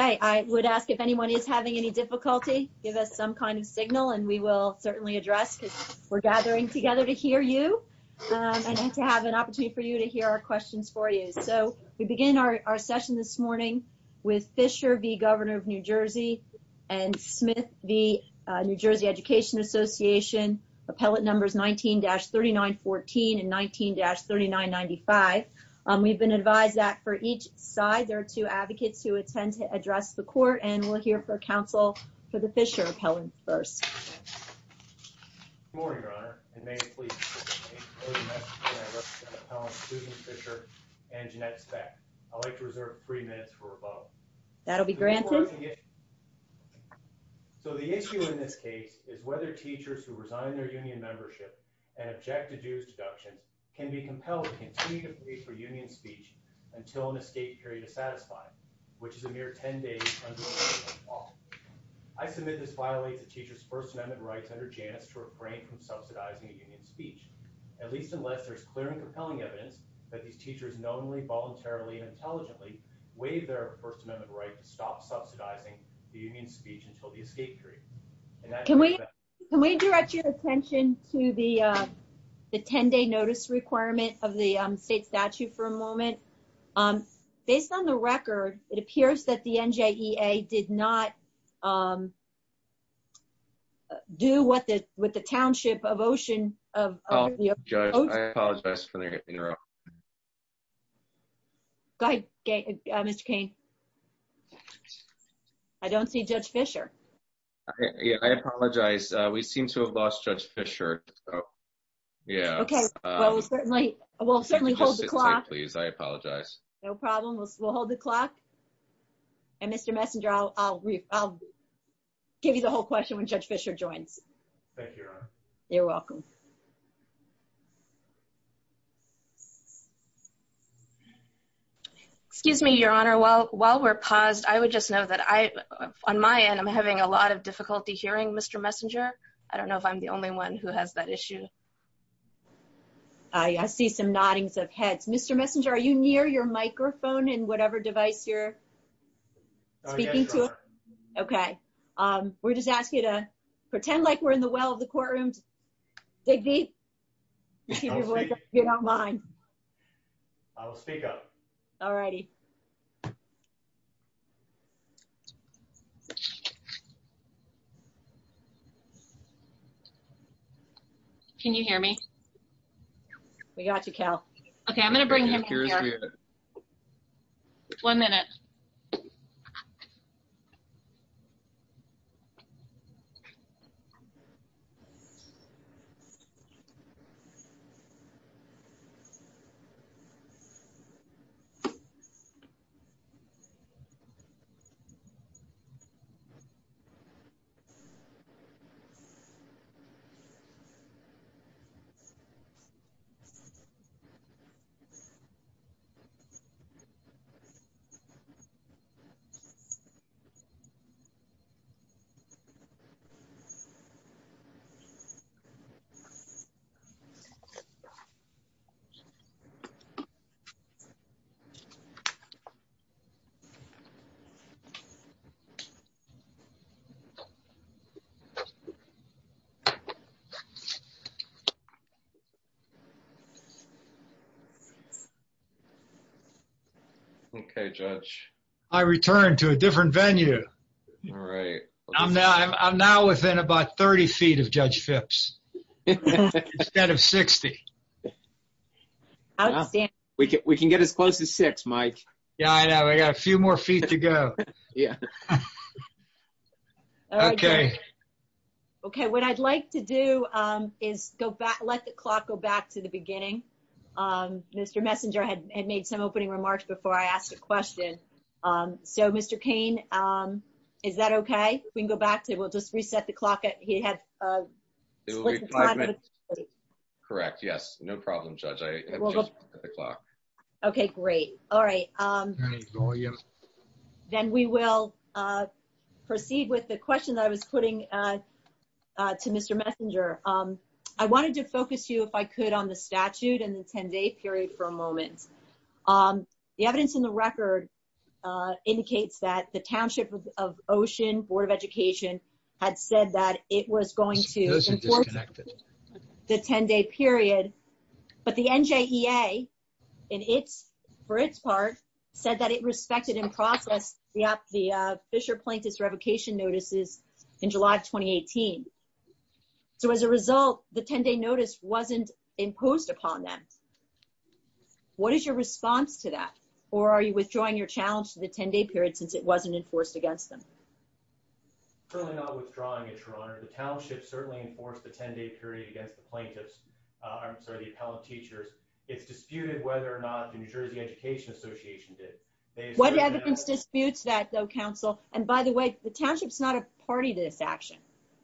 I would ask if anyone is having any difficulty, give us some kind of signal and we will certainly address because we're gathering together to hear you and to have an opportunity for you to hear our questions for you. So we begin our session this morning with Fischer v. Governor of New Jersey and Smith v. New Jersey Education Association. Appellate numbers 19-3914 and 19-3995. We've been advised that for each side there are two advocates who intend to address the court and we'll hear from counsel for the Fischer appellant first. That'll be granted. So the issue in this case is whether teachers who resign their union membership and object to dues deductions can be compelled to continue to pay for union speech until an escape period is satisfied, which is a mere 10 days. I submit this violates the teacher's First Amendment rights under Janus to refrain from subsidizing a union speech, at least unless there's clear and compelling evidence that these teachers knowingly, voluntarily and intelligently waived their First Amendment right to stop subsidizing the union speech until the escape period. Can we can we direct your attention to the 10 day notice requirement of the state statute for a moment? Based on the record, it appears that the NJEA did not do what the with the Township of Ocean. I apologize for the interruption. Go ahead, Mr. Kane. I don't see Judge Fischer. Yeah, I apologize. We seem to have lost Judge Fischer. Yeah, okay. Well, certainly. Well, certainly hold the clock, please. I apologize. No problem. We'll hold the clock. And Mr. Messenger, I'll give you the whole question when Judge Fischer joins. Thank you. You're welcome. Excuse me, Your Honor. Well, while we're paused, I would just know that I on my end, I'm having a lot of difficulty hearing Mr. Messenger. I don't know if I'm the only one who has that issue. I see some noddings of heads. Mr. Messenger, are you near your microphone and whatever device you're speaking to? Okay. We're just asking you to pretend like we're in the well of the courtroom. Dig deep. I will speak up. All righty. Can you hear me? We got you, Cal. Okay, I'm going to bring him here. One minute. Okay. Okay, Judge. I returned to a different venue. All right. I'm now within about 30 feet of Judge Phipps instead of 60. Outstanding. We can get as close as six, Mike. Yeah, I know. We got a few more feet to go. Yeah. Okay. Okay. What I'd like to do is let the clock go back to the beginning. Mr. Messenger had made some opening remarks before I asked a question. So, Mr. Cain, is that okay? We can go back to it. We'll just reset the clock. He had split the time. Correct. Yes, no problem, Judge. I have changed the clock. Okay, great. All right. Then we will proceed with the question that I was putting to Mr. Messenger. I wanted to focus you, if I could, on the statute and the 10-day period for a moment. The evidence in the record indicates that the Township of Ocean Board of Education had said that it was going to withdraw the 10-day period, but the NJEA, for its part, said that it respected and processed the Fisher Plaintiff's revocation notices in July of 2018. So, as a result, the 10-day notice wasn't imposed upon them. What is your response to that? Or are you withdrawing your challenge to the 10-day period since it wasn't enforced against them? I'm currently not withdrawing, Your Honor. The Township certainly enforced the 10-day period against the plaintiffs, I'm sorry, the appellant teachers. It's disputed whether or not the New Jersey Education Association did. What evidence disputes that, though, Counsel? And by the way, the Township's not a party to this action.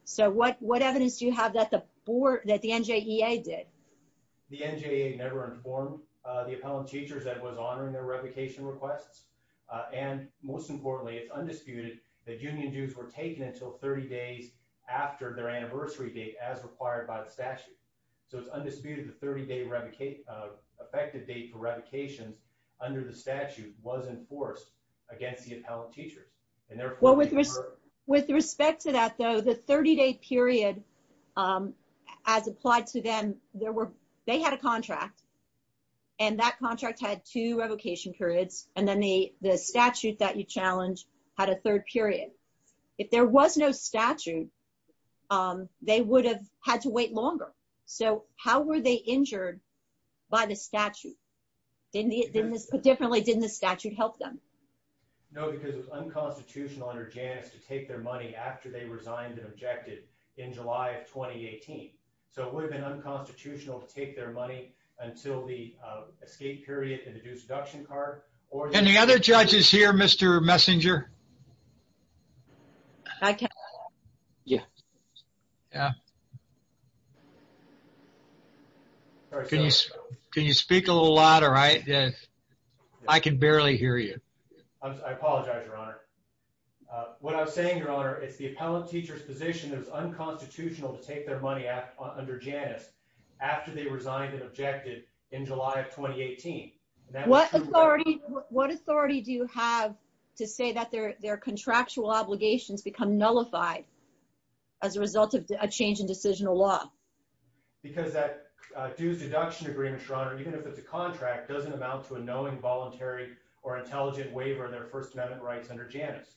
So, what evidence do you have that the NJEA did? The NJEA never informed the appellant teachers that it was honoring their that union dues were taken until 30 days after their anniversary date, as required by the statute. So, it's undisputed the 30-day effective date for revocations under the statute was enforced against the appellant teachers. And therefore, with respect to that, though, the 30-day period, as applied to them, they had a contract, and that contract had two revocation periods, and then the statute that you challenged had a third period. If there was no statute, they would have had to wait longer. So, how were they injured by the statute? Differently, didn't the statute help them? No, because it was unconstitutional under Janus to take their money after they resigned and objected in July of 2018. So, it would have been unconstitutional to take their money until the escape period, the due seduction card. Any other judges here, Mr. Messinger? Can you speak a little louder? I can barely hear you. I apologize, Your Honor. What I'm saying, Your Honor, it's the appellant teacher's position that it's unconstitutional to take their money under Janus after they resigned and objected in July of 2018. What authority do you have to say that their contractual obligations become nullified as a result of a change in decisional law? Because that due seduction agreement, Your Honor, even if it's a contract, doesn't amount to a knowing, voluntary, or intelligent waiver of their First Amendment rights under Janus.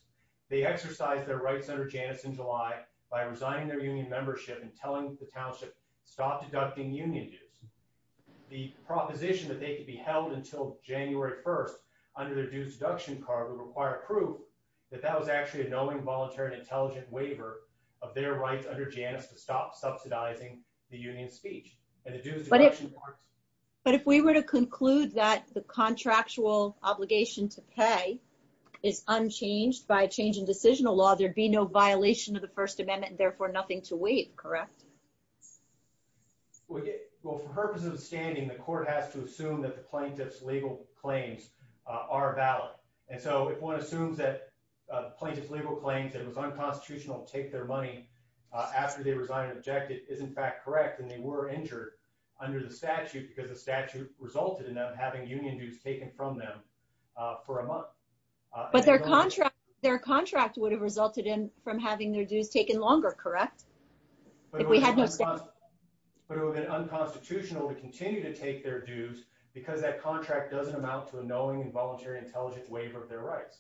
They exercised their rights under Janus in July by resigning their union membership and telling the township, stop deducting union dues. The proposition that they could be held until January 1st under their due seduction card would require proof that that was actually a knowing, voluntary, and intelligent waiver of their rights under Janus to stop subsidizing the union speech. But if we were to conclude that the contractual obligation to pay is unchanged by a change in decisional law, there'd be no violation of the First Amendment, therefore nothing to waive, correct? Well, for purposes of the standing, the court has to assume that the plaintiff's legal claims are valid. And so if one assumes that plaintiff's legal claims that it was unconstitutional to take their money after they resigned and objected is in fact correct and they were injured under the statute because the statute resulted in them having union dues taken from them for a month. But their contract would have resulted in from having their dues taken longer, correct? But it would have been unconstitutional to continue to take their dues because that contract doesn't amount to a knowing and voluntary intelligent waiver of their rights.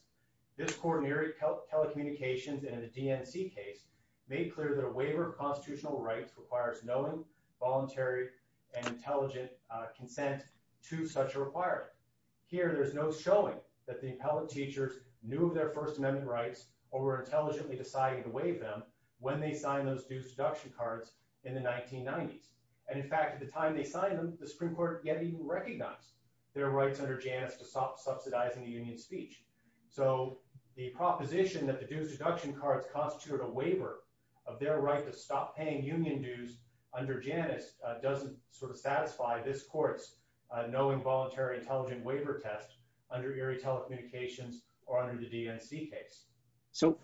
This court in telecommunications and in the DNC case made clear that a waiver of constitutional rights requires knowing, voluntary, and intelligent consent to such a requirement. Here there's no showing that the appellate teachers knew of their First Amendment rights or were intelligently deciding to waive them when they signed those dues deduction cards in the 1990s. And in fact, at the time they signed them, the Supreme Court yet even recognized their rights under Janus to subsidize any union speech. So the proposition that the dues deduction cards constituted a waiver of their right to stop paying union dues under Janus doesn't sort of satisfy this court's involuntary intelligent waiver test under Erie telecommunications or under the DNC case. So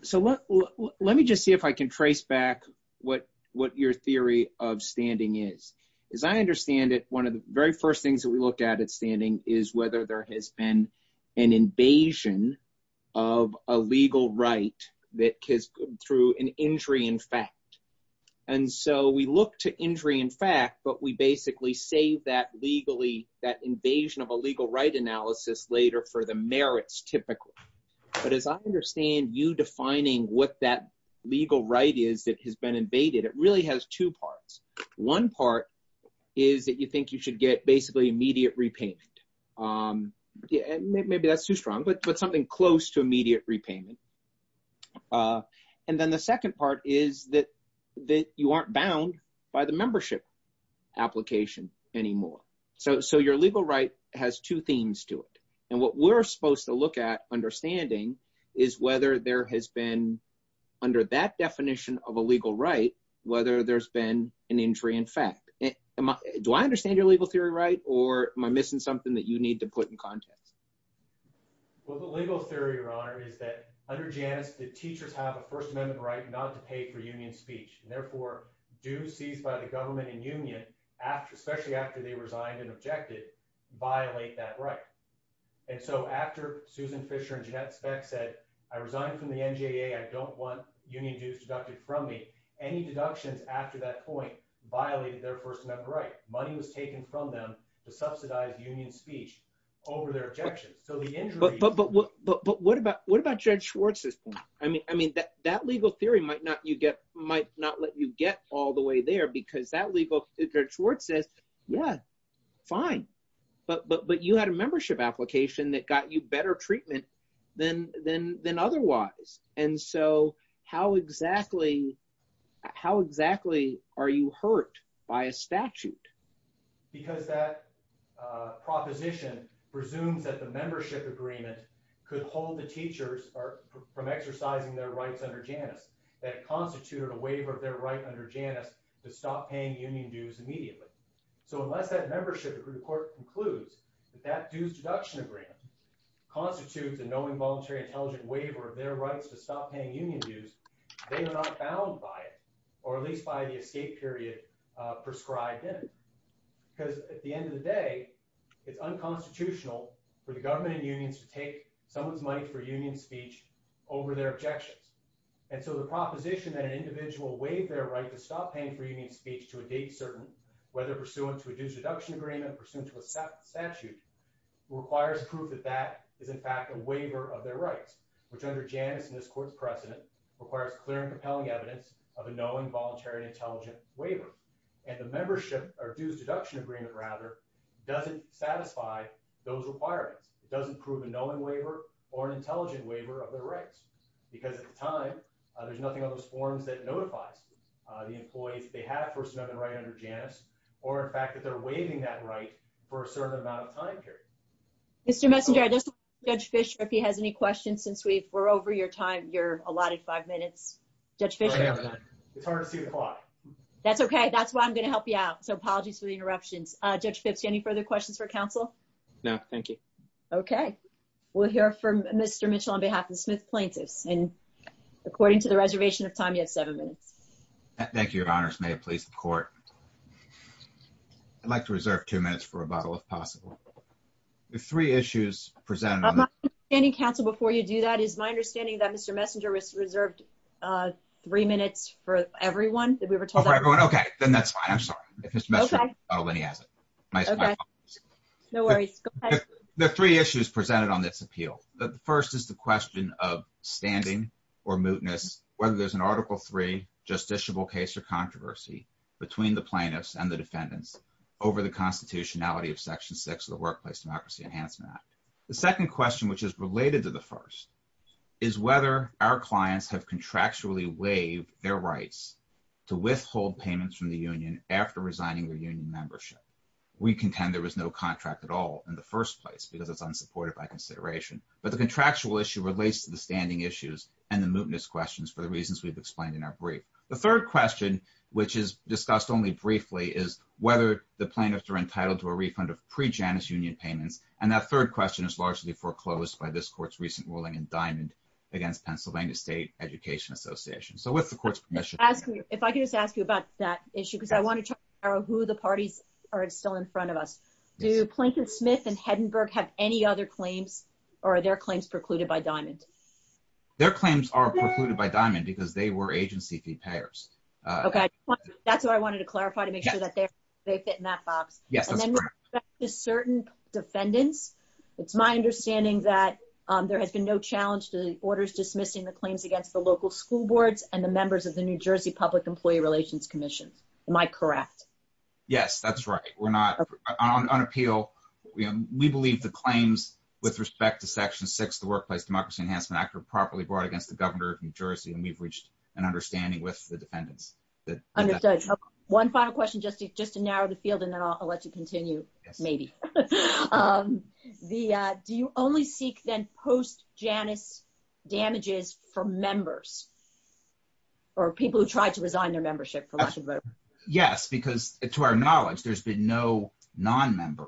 let me just see if I can trace back what your theory of standing is. As I understand it, one of the very first things that we looked at at standing is whether there has been an invasion of a legal right that has come through an injury in fact. And so we look to injury in fact, but we invasion of a legal right analysis later for the merits typically. But as I understand you defining what that legal right is that has been invaded, it really has two parts. One part is that you think you should get basically immediate repayment. Maybe that's too strong, but something close to immediate repayment. And then the second part is that you aren't bound by the membership application anymore. So your legal right has two themes to it. And what we're supposed to look at understanding is whether there has been under that definition of a legal right, whether there's been an injury in fact. Do I understand your legal theory, right? Or am I missing something that you need to put in context? Well, the legal theory, your honor, is that under Janus, the teachers have a first amendment right not to pay for union speech and therefore dues seized by the government and union after, especially after they resigned and objected, violate that right. And so after Susan Fisher and Jeannette Speck said, I resigned from the NJA, I don't want union dues deducted from me. Any deductions after that point violated their first amendment right. Money was taken from them to subsidize union speech over their objections. So the injury- But what about Judge Schwartz? I mean, that legal theory might not let you all the way there because that legal- Judge Schwartz says, yeah, fine. But you had a membership application that got you better treatment than otherwise. And so how exactly are you hurt by a statute? Because that proposition presumes that the membership agreement could hold the teachers from exercising their rights under Janus that constituted a waiver of their right under Janus to stop paying union dues immediately. So unless that membership report concludes that that dues deduction agreement constitutes a no involuntary intelligent waiver of their rights to stop paying union dues, they are not bound by it or at least by the escape period prescribed in it. Because at the end of the day, it's unconstitutional for the government and unions to take someone's money for union speech over their objections. And so the proposition that an individual waived their right to stop paying for union speech to a date certain, whether pursuant to a dues deduction agreement, pursuant to a statute, requires proof that that is in fact a waiver of their rights, which under Janus and this court's precedent requires clear and compelling evidence of a no involuntary intelligent waiver. And the membership or dues deduction agreement rather doesn't satisfy those requirements. It doesn't prove a no in waiver or an intelligent waiver of their rights. Because at the time, there's nothing on those forms that notifies the employees that they have first amendment right under Janus or in fact that they're waiving that right for a certain amount of time period. Mr. Messenger, I just want to ask Judge Fischer if he has any questions since we're over your time. You're allotted five minutes. Judge Fischer. It's hard to see the clock. That's okay. That's why I'm going to help you out. So apologies for the interruptions. Judge Fitz, do you have any further questions for counsel? No, thank you. Okay. We'll hear from Mr. Mitchell on behalf of the Smith plaintiffs. And according to the reservation of time, you have seven minutes. Thank you, Your Honors. May it please the court. I'd like to reserve two minutes for rebuttal if possible. The three issues presented on the standing counsel before you do that is my understanding that Mr. Messenger was reserved three minutes for everyone that we were told everyone. Okay, then that's fine. I'm sorry. No worries. The three issues presented on this appeal. The first is the question of standing or mootness, whether there's an article three justiciable case or controversy between the plaintiffs and the defendants over the constitutionality of section six of the Workplace Democracy Enhancement Act. The second question, which is related to the first, is whether our clients have contractually waived their rights to withhold payments from the union after resigning their union membership. We contend there was no contract at all in the first place because it's unsupported by consideration. But the contractual issue relates to the standing issues and the mootness questions for the reasons we've explained in our brief. The third question, which is discussed only briefly, is whether the plaintiffs are entitled to a refund of pre-Janus union payments. And that third question is largely foreclosed by this court's recent ruling in Diamond against Pennsylvania State Education Association. With the court's permission. If I could just ask you about that issue because I want to try to narrow who the parties are still in front of us. Do Plankton Smith and Hedenberg have any other claims or are their claims precluded by Diamond? Their claims are precluded by Diamond because they were agency fee payers. Okay. That's what I wanted to clarify to make sure that they fit in that box. And then with respect to certain defendants, it's my understanding that there has been no challenge to the orders dismissing the claims against the local school boards and the members of the New Jersey Public Employee Relations Commission. Am I correct? Yes, that's right. We're not on appeal. We believe the claims with respect to section six, the Workplace Democracy Enhancement Act are properly brought against the governor of New Jersey. And we've reached an understanding with the defendants. Understood. One final question just to narrow the field and then I'll let you continue, maybe. Do you only seek then post-Janus damages for members or people who tried to resign their membership? Yes, because to our knowledge, there's been no non-member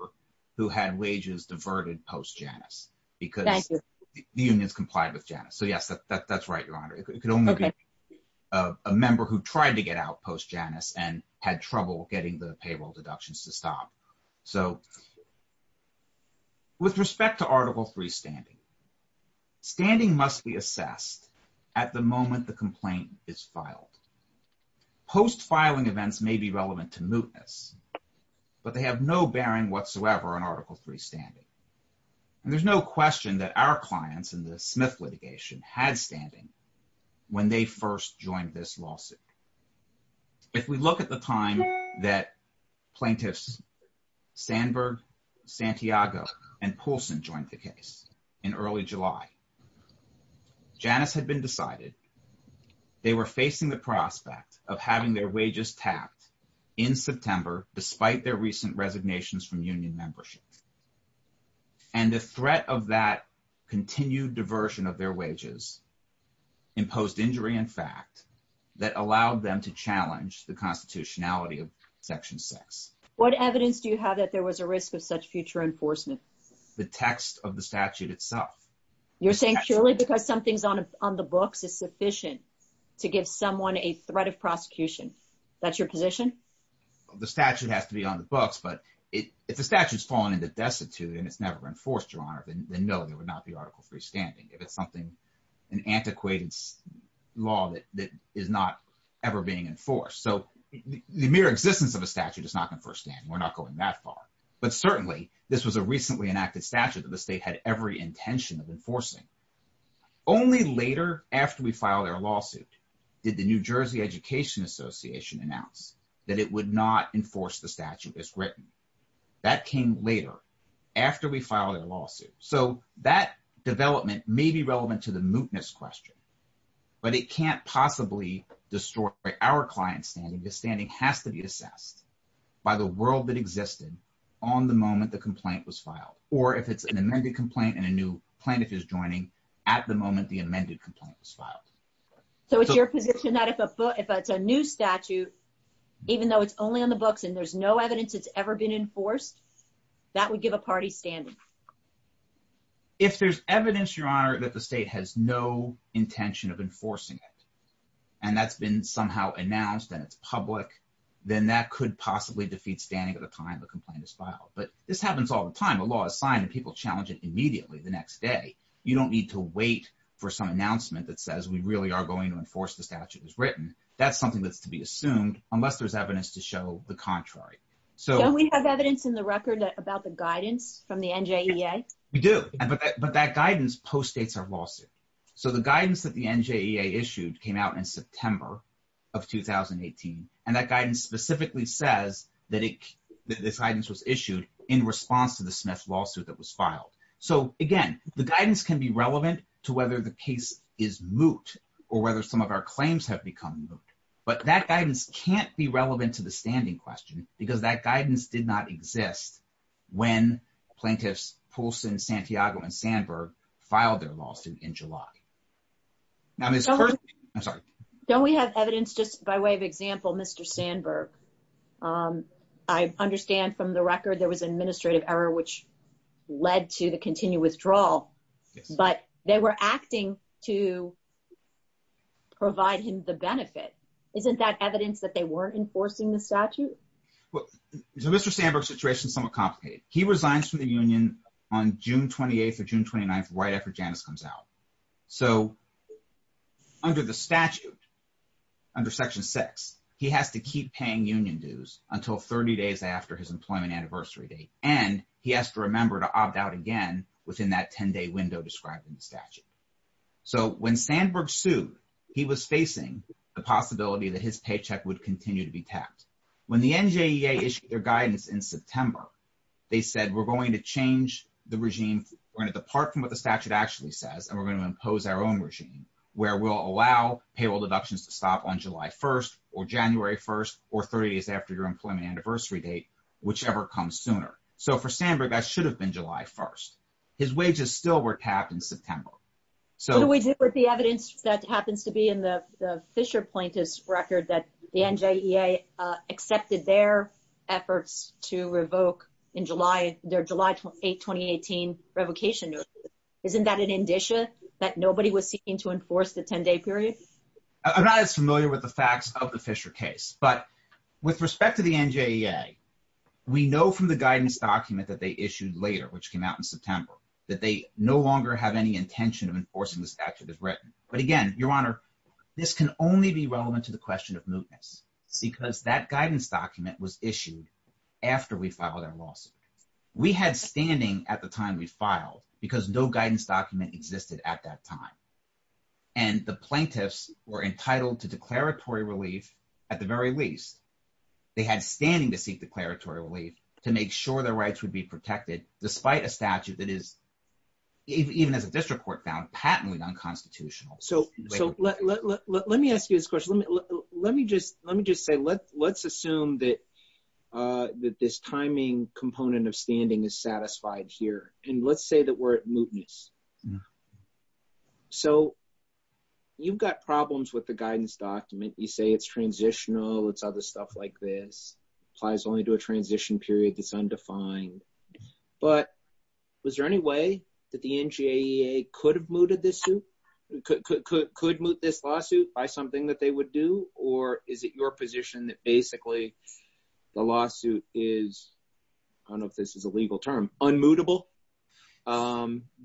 who had wages diverted post-Janus because the unions complied with Janus. So yes, that's right, Your Honor. It could only be a member who tried to get out post-Janus and had trouble getting the payroll deductions to stop. So with respect to Article III standing, standing must be assessed at the moment the complaint is filed. Post-filing events may be relevant to mootness, but they have no bearing whatsoever on Article III standing. And there's no question that our clients in the Smith litigation had standing when they first joined this lawsuit. If we look at the time that plaintiffs Sandberg, Santiago, and Poulsen joined the case in early July, Janus had been decided. They were facing the prospect of having their wages tapped in September despite their recent resignations from union membership. And the threat of that continued diversion of their wages imposed injury in fact that allowed them to challenge the constitutionality of Section 6. What evidence do you have that there was a risk of such future enforcement? The text of the statute itself. You're saying purely because something's on the books is sufficient to give someone a threat of prosecution. That's your position? The statute has to be on the books, but if the statute's fallen into destitute and it's never enforced, Your Honor, then no, there would not be Article III standing. If it's something antiquated law that is not ever being enforced. So the mere existence of a statute is not going first and we're not going that far. But certainly this was a recently enacted statute that the state had every intention of enforcing. Only later after we filed our lawsuit did the New Jersey Education Association announce that it would not enforce the statute as written. That came later after we filed a lawsuit. So that development may be relevant to the mootness question, but it can't possibly destroy our client's standing. The standing has to be assessed by the world that existed on the moment the complaint was filed. Or if it's an amended complaint and a new plaintiff is joining at the moment the amended complaint was filed. So it's your position that if a book, if it's a new statute, even though it's only on the books and there's no evidence it's ever been enforced, that would give a party standing? If there's evidence, Your Honor, that the state has no intention of enforcing it and that's been somehow announced and it's public, then that could possibly defeat standing at a time the complaint is filed. But this happens all the time. A law is signed and people challenge it immediately the next day. You don't need to wait for some announcement that says we really are going to enforce the statute as written. That's something that's to be assumed unless there's evidence to show the contrary. Don't we have evidence in the record about the guidance from the NJEA? We do, but that guidance postdates our lawsuit. So the guidance that the NJEA issued came out in September of 2018 and that guidance specifically says that this guidance was issued in response to the Smith lawsuit that was filed. So again, the guidance can be relevant to whether the case is moot or whether some of our claims have become moot. But that guidance can't be relevant to the standing question because that guidance did not exist when plaintiffs Poulsen, Santiago, and Sandberg filed their lawsuit in July. Don't we have evidence just by way of example, Mr. Sandberg? I understand from the record there was an administrative error which led to the continued withdrawal, but they were acting to provide him the benefit. Isn't that evidence that they weren't enforcing the statute? So Mr. Sandberg's situation is somewhat complicated. He resigns from the union on June 28th or June 29th right after Janice comes out. So under the statute, under section six, he has to keep paying union dues until 30 days after his employment anniversary date and he has to remember to opt out again within that 10-day window described in the statute. So when Sandberg sued, he was facing the possibility that his paycheck would continue to be tapped. When the NJEA issued their guidance in September, they said we're going to change the regime. We're going to depart from what the statute actually says and we're going to impose our own regime where we'll allow payroll deductions to stop on July 1st or January 1st or 30 days after your employment anniversary date, whichever comes sooner. So for Sandberg, that should have been July 1st. His wages still were tapped in September. What do we do with the evidence that happens to be in the Fisher plaintiff's record that the NJEA accepted their efforts to revoke their July 8, 2018 revocation notice? Isn't that an indicia that nobody was seeking to enforce the 10-day period? I'm not as familiar with the facts of the Fisher case, but with respect to the NJEA, we know from the guidance document that they issued later, which came out in September, that they no longer have any intention of enforcing the statute as written. But again, Your Honor, this can only be relevant to the question of mootness because that guidance document was issued after we filed our lawsuit. We had standing at the time we filed because no guidance document existed at that time. And the plaintiffs were entitled to declaratory relief at the very least. They had standing to seek declaratory relief to make sure their rights would be protected despite a statute that is, even as a district court found, patently unconstitutional. So let me ask you this question. Let me just say, let's assume that this timing component of standing is satisfied here. And let's say that we're at mootness. So you've got problems with the guidance document. You say it's transitional, it's other stuff like this. Applies only to a transition period that's undefined. But was there any way that the NJEA could have mooted this suit? Could moot this lawsuit by something that they would do? Or is it your position that basically the lawsuit is, I don't know if this is a legal term, unmootable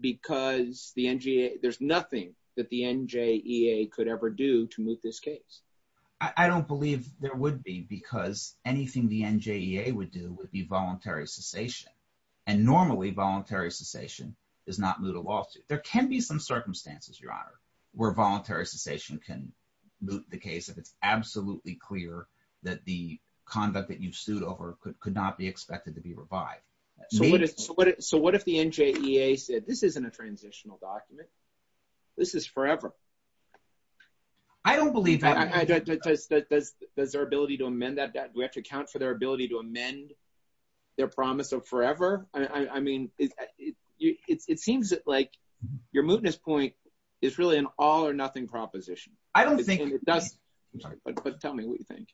because there's nothing that the NJEA could ever do to moot this case? I don't believe there would be because anything the NJEA would do would be voluntary cessation. And normally voluntary cessation does not moot a lawsuit. There can be some circumstances, your honor, where voluntary cessation can moot the case if it's absolutely clear that the conduct that you've sued over could not be expected to be revived. So what if the NJEA said, this isn't a transitional document, this is forever? I don't believe that. Does their ability to amend that, do we have to account for their ability to amend their promise of forever? I mean, it seems like your mootness point is really an all or nothing proposition. But tell me what you think.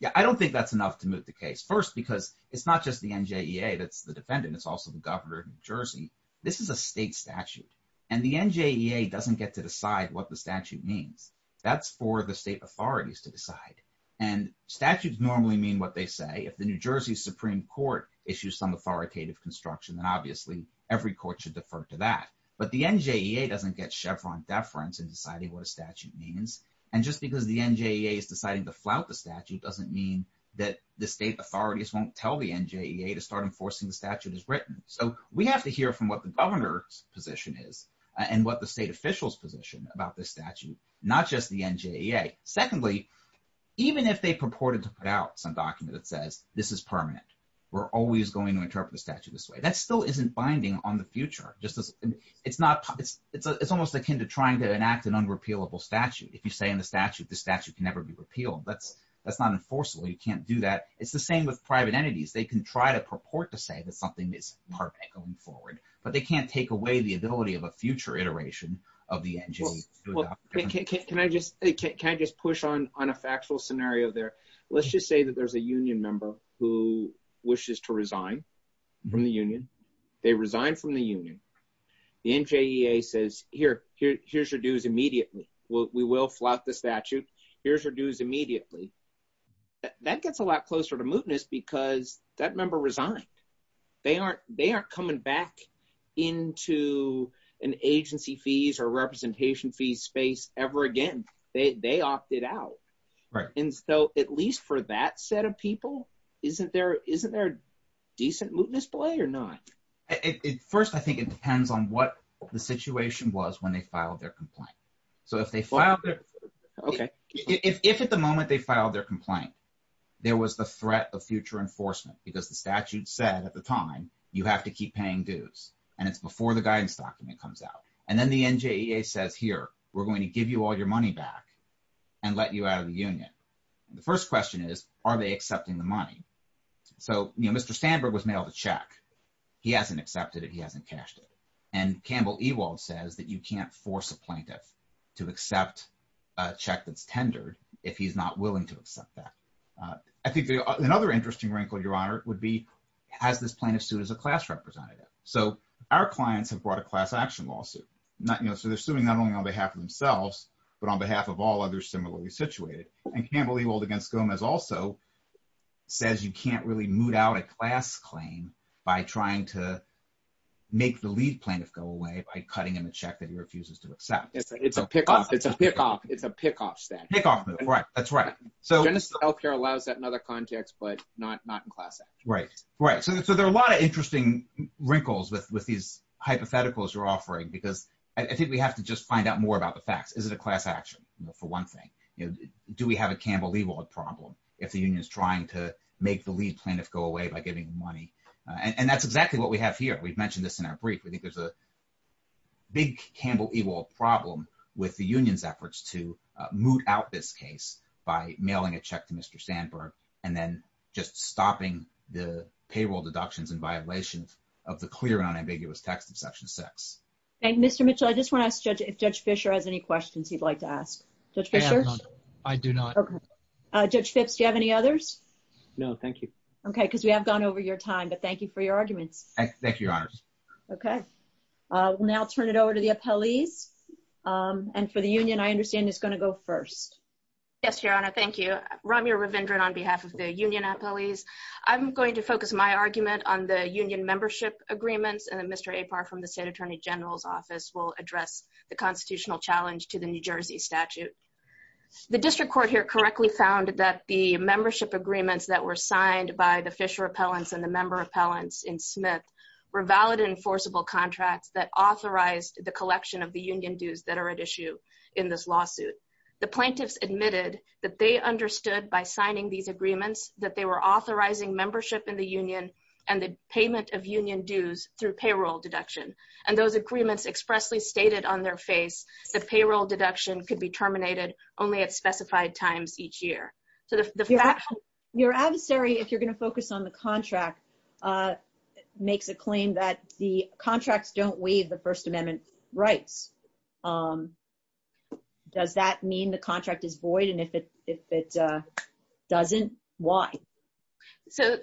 Yeah, I don't think that's enough to moot the case. First, because it's not just the NJEA that's the defendant, it's also the governor of New Jersey. This is a state statute. And the NJEA doesn't get to decide what the statute means. That's for the state authorities to decide. And statutes normally mean what they say. If the New Jersey Supreme Court issues some authoritative construction, then obviously every court should defer to that. But the NJEA doesn't get Chevron deference in deciding what a statute means. And just because the NJEA is deciding to flout the statute doesn't mean that the state authorities won't tell the NJEA to start enforcing the statute as written. So we have to hear from what the governor's position is, and what the state officials position about this statute, not just the NJEA. Secondly, even if they purported to put out some document that says, this is permanent, we're always going to interpret the statute this way, that still isn't binding on the future, it's almost akin to trying to enact an unrepealable statute. If you say in the statute, the statute can never be repealed, that's not enforceable, you can't do that. It's the same with private entities, they can try to purport to say that something is permanent going forward, but they can't take away the ability of a future iteration of the NJEA. Can I just push on a factual scenario there? Let's just say that there's a union member who wishes to resign from the union. They resign from the union. The NJEA says, here's your dues immediately. We will flout the statute. Here's your dues immediately. That gets a lot closer to mootness because that member resigned. They aren't coming back into an agency fees or representation fees space ever again. They opted out. And so at least for that set of people, isn't there a decent mootness play or not? First, I think it depends on what the situation was when they filed their complaint. If at the moment they filed their complaint, there was the threat of future enforcement, because the statute said at the time, you have to keep paying dues. And it's before the guidance document comes out. And then the NJEA says, here, we're going to give you all your money back and let you out of the union. The first question is, are they accepting the money? So Mr. Sandberg was mailed a check. He hasn't accepted it. He hasn't cashed it. And Campbell Ewald says that you can't force a plaintiff to accept a check that's tendered if he's not willing to accept that. I think another interesting wrinkle, Your Honor, would be has this plaintiff sued as a class representative? So our clients have brought a class action lawsuit. So they're suing not only on behalf of themselves, but on behalf of others similarly situated. And Campbell Ewald against Gomez also says you can't really moot out a class claim by trying to make the lead plaintiff go away by cutting him a check that he refuses to accept. It's a pick-off. It's a pick-off. It's a pick-off stance. Pick-off move, right. That's right. Genesis Healthcare allows that in other contexts, but not in class action. Right. So there are a lot of interesting wrinkles with these hypotheticals you're offering, because I think we have to just find out more about the facts. Is it a class action for one thing? Do we have a Campbell Ewald problem if the union is trying to make the lead plaintiff go away by giving them money? And that's exactly what we have here. We've mentioned this in our brief. We think there's a big Campbell Ewald problem with the union's efforts to moot out this case by mailing a check to Mr. Sandberg, and then just stopping the payroll deductions in violation of the clear and unambiguous text of Section 6. Mr. Mitchell, I just want to ask if Judge Fischer has any questions he'd like to ask. Judge Fischer? I do not. Okay. Judge Phipps, do you have any others? No, thank you. Okay, because we have gone over your time, but thank you for your arguments. Thank you, Your Honor. Okay. We'll now turn it over to the appellees. And for the union, I understand it's going to go first. Yes, Your Honor. Thank you. Ramya Ravindran on behalf of the union appellees. I'm going to focus my argument on the union membership agreements, and then Mr. Apar from the State Attorney General's Office will address the constitutional challenge to the New Jersey statute. The district court here correctly found that the membership agreements that were signed by the Fischer appellants and the member appellants in Smith were valid enforceable contracts that authorized the collection of the union dues that are at issue in this lawsuit. The plaintiffs admitted that they understood by signing these agreements that they were authorizing membership in the union and the payment of union dues through payroll deduction, and those agreements expressly stated on their face that payroll deduction could be terminated only at specified times each year. Your adversary, if you're going to focus on the contract, makes a claim that the contracts don't waive the First Amendment rights. Does that mean the contract is void? And if it doesn't, why? So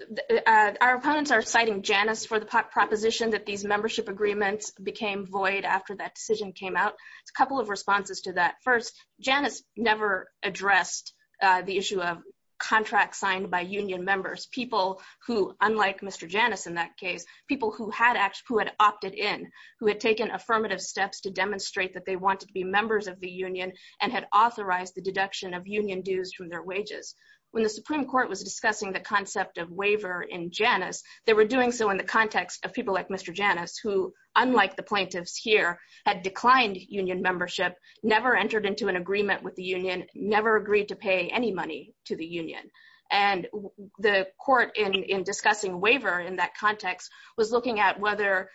our opponents are citing Janus for the proposition that these membership agreements became void after that decision came out. A couple of responses to that. First, Janus never addressed the issue of Mr. Janus in that case. People who had opted in, who had taken affirmative steps to demonstrate that they wanted to be members of the union and had authorized the deduction of union dues from their wages. When the Supreme Court was discussing the concept of waiver in Janus, they were doing so in the context of people like Mr. Janus, who, unlike the plaintiffs here, had declined union membership, never entered into an agreement with the union, never agreed to pay any money to the waiver in that context, was looking at whether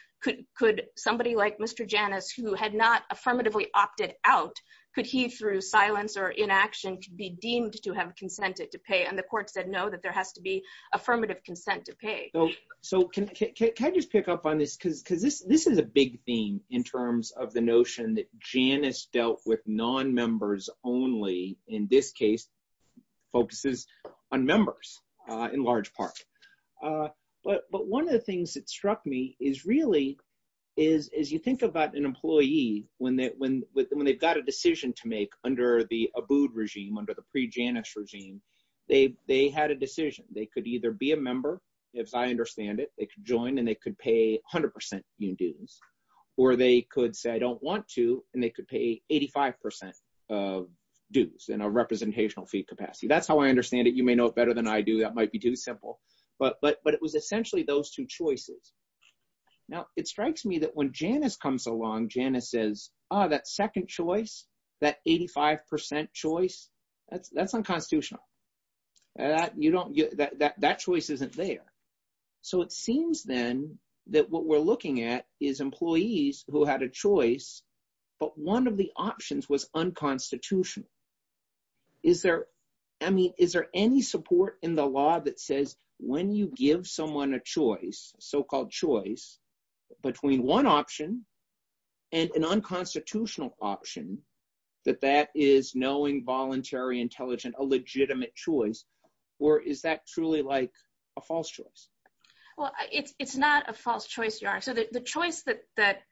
could somebody like Mr. Janus, who had not affirmatively opted out, could he, through silence or inaction, be deemed to have consented to pay? And the court said, no, that there has to be affirmative consent to pay. So can I just pick up on this? Because this is a big theme in terms of the notion that Janus dealt with non-members only, in this case, focuses on members in large part. But one of the things that struck me is really, as you think about an employee, when they've got a decision to make under the Abood regime, under the pre-Janus regime, they had a decision. They could either be a member, as I understand it, they could join and they could pay 100% union dues, or they could say, and they could pay 85% of dues in a representational fee capacity. That's how I understand it. You may know it better than I do. That might be too simple. But it was essentially those two choices. Now, it strikes me that when Janus comes along, Janus says, oh, that second choice, that 85% choice, that's unconstitutional. That choice isn't there. So it seems then that what we're looking at is employees who had a choice, but one of the options was unconstitutional. Is there any support in the law that says when you give someone a choice, so-called choice, between one option and an unconstitutional option, that that is knowing, voluntary, intelligent, a legitimate choice? Or is that truly like a false choice? Well, it's not a false choice, Your Honor. So the choice that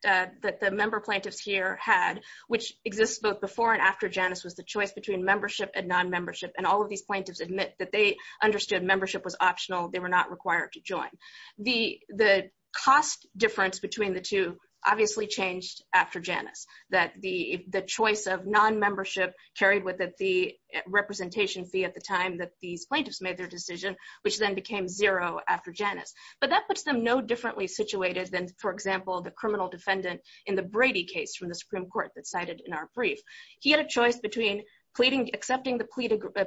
the member plaintiffs here had, which exists both before and after Janus, was the choice between membership and non-membership. And all of these plaintiffs admit that they understood membership was optional. They were not required to join. The cost difference between the two obviously changed after Janus, that the choice of non-membership carried with it the representation fee at the time that these plaintiffs made their Janus. But that puts them no differently situated than, for example, the criminal defendant in the Brady case from the Supreme Court that's cited in our brief. He had a choice between accepting the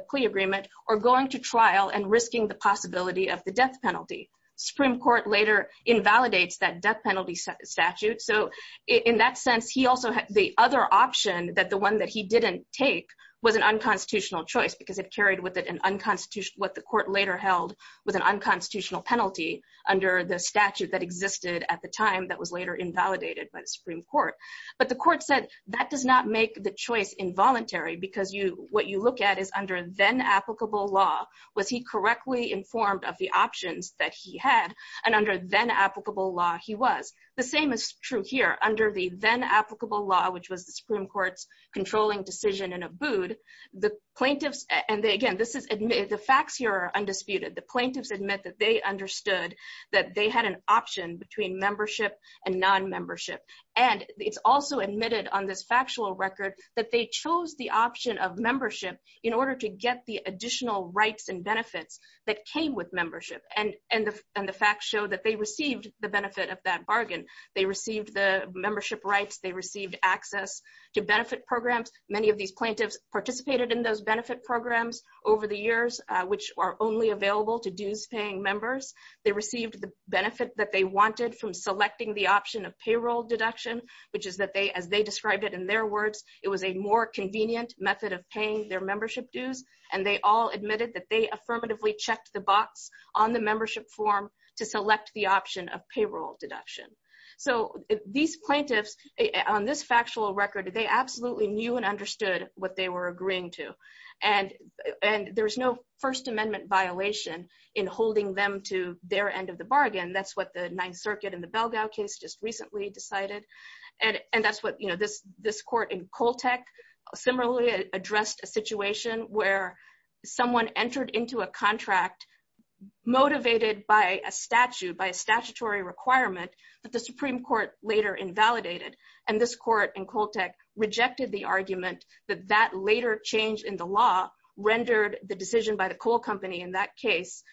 plea agreement or going to trial and risking the possibility of the death penalty. Supreme Court later invalidates that death penalty statute. So in that sense, the other option that the one that he didn't take was an unconstitutional choice because it carried with it what the court later held was an unconstitutional penalty under the statute that existed at the time that was later invalidated by the Supreme Court. But the court said that does not make the choice involuntary because what you look at is under then-applicable law, was he correctly informed of the options that he had? And under then-applicable law, he was. The same is true here. Under the then-applicable law, which was the Supreme Court's controlling decision in Abood, the plaintiffs—and again, this is—the facts here are undisputed. The plaintiffs admit that they understood that they had an option between membership and non-membership. And it's also admitted on this factual record that they chose the option of membership in order to get the additional rights and benefits that came with membership. And the facts show that they received the benefit of that bargain. They received the membership rights. They received access to benefit programs. Many of these plaintiffs participated in those benefit programs over the years, which are only available to dues-paying members. They received the benefit that they wanted from selecting the option of payroll deduction, which is that they—as they described it in their words, it was a more convenient method of paying their membership dues. And they all admitted that they affirmatively checked the box on the membership form to select the option of payroll deduction. So these plaintiffs, on this factual record, they absolutely knew and understood what they were agreeing to. And there's no First Amendment violation in holding them to their end of the bargain. That's what the Ninth Circuit in the Belgao case just recently decided. And that's what, you know, this court in Coltec similarly addressed a situation where someone entered into a contract motivated by a statute, by a statutory requirement, that the Supreme Court later invalidated. And this court in Coltec rejected the argument that that later change in the law rendered the decision by the coal company in that case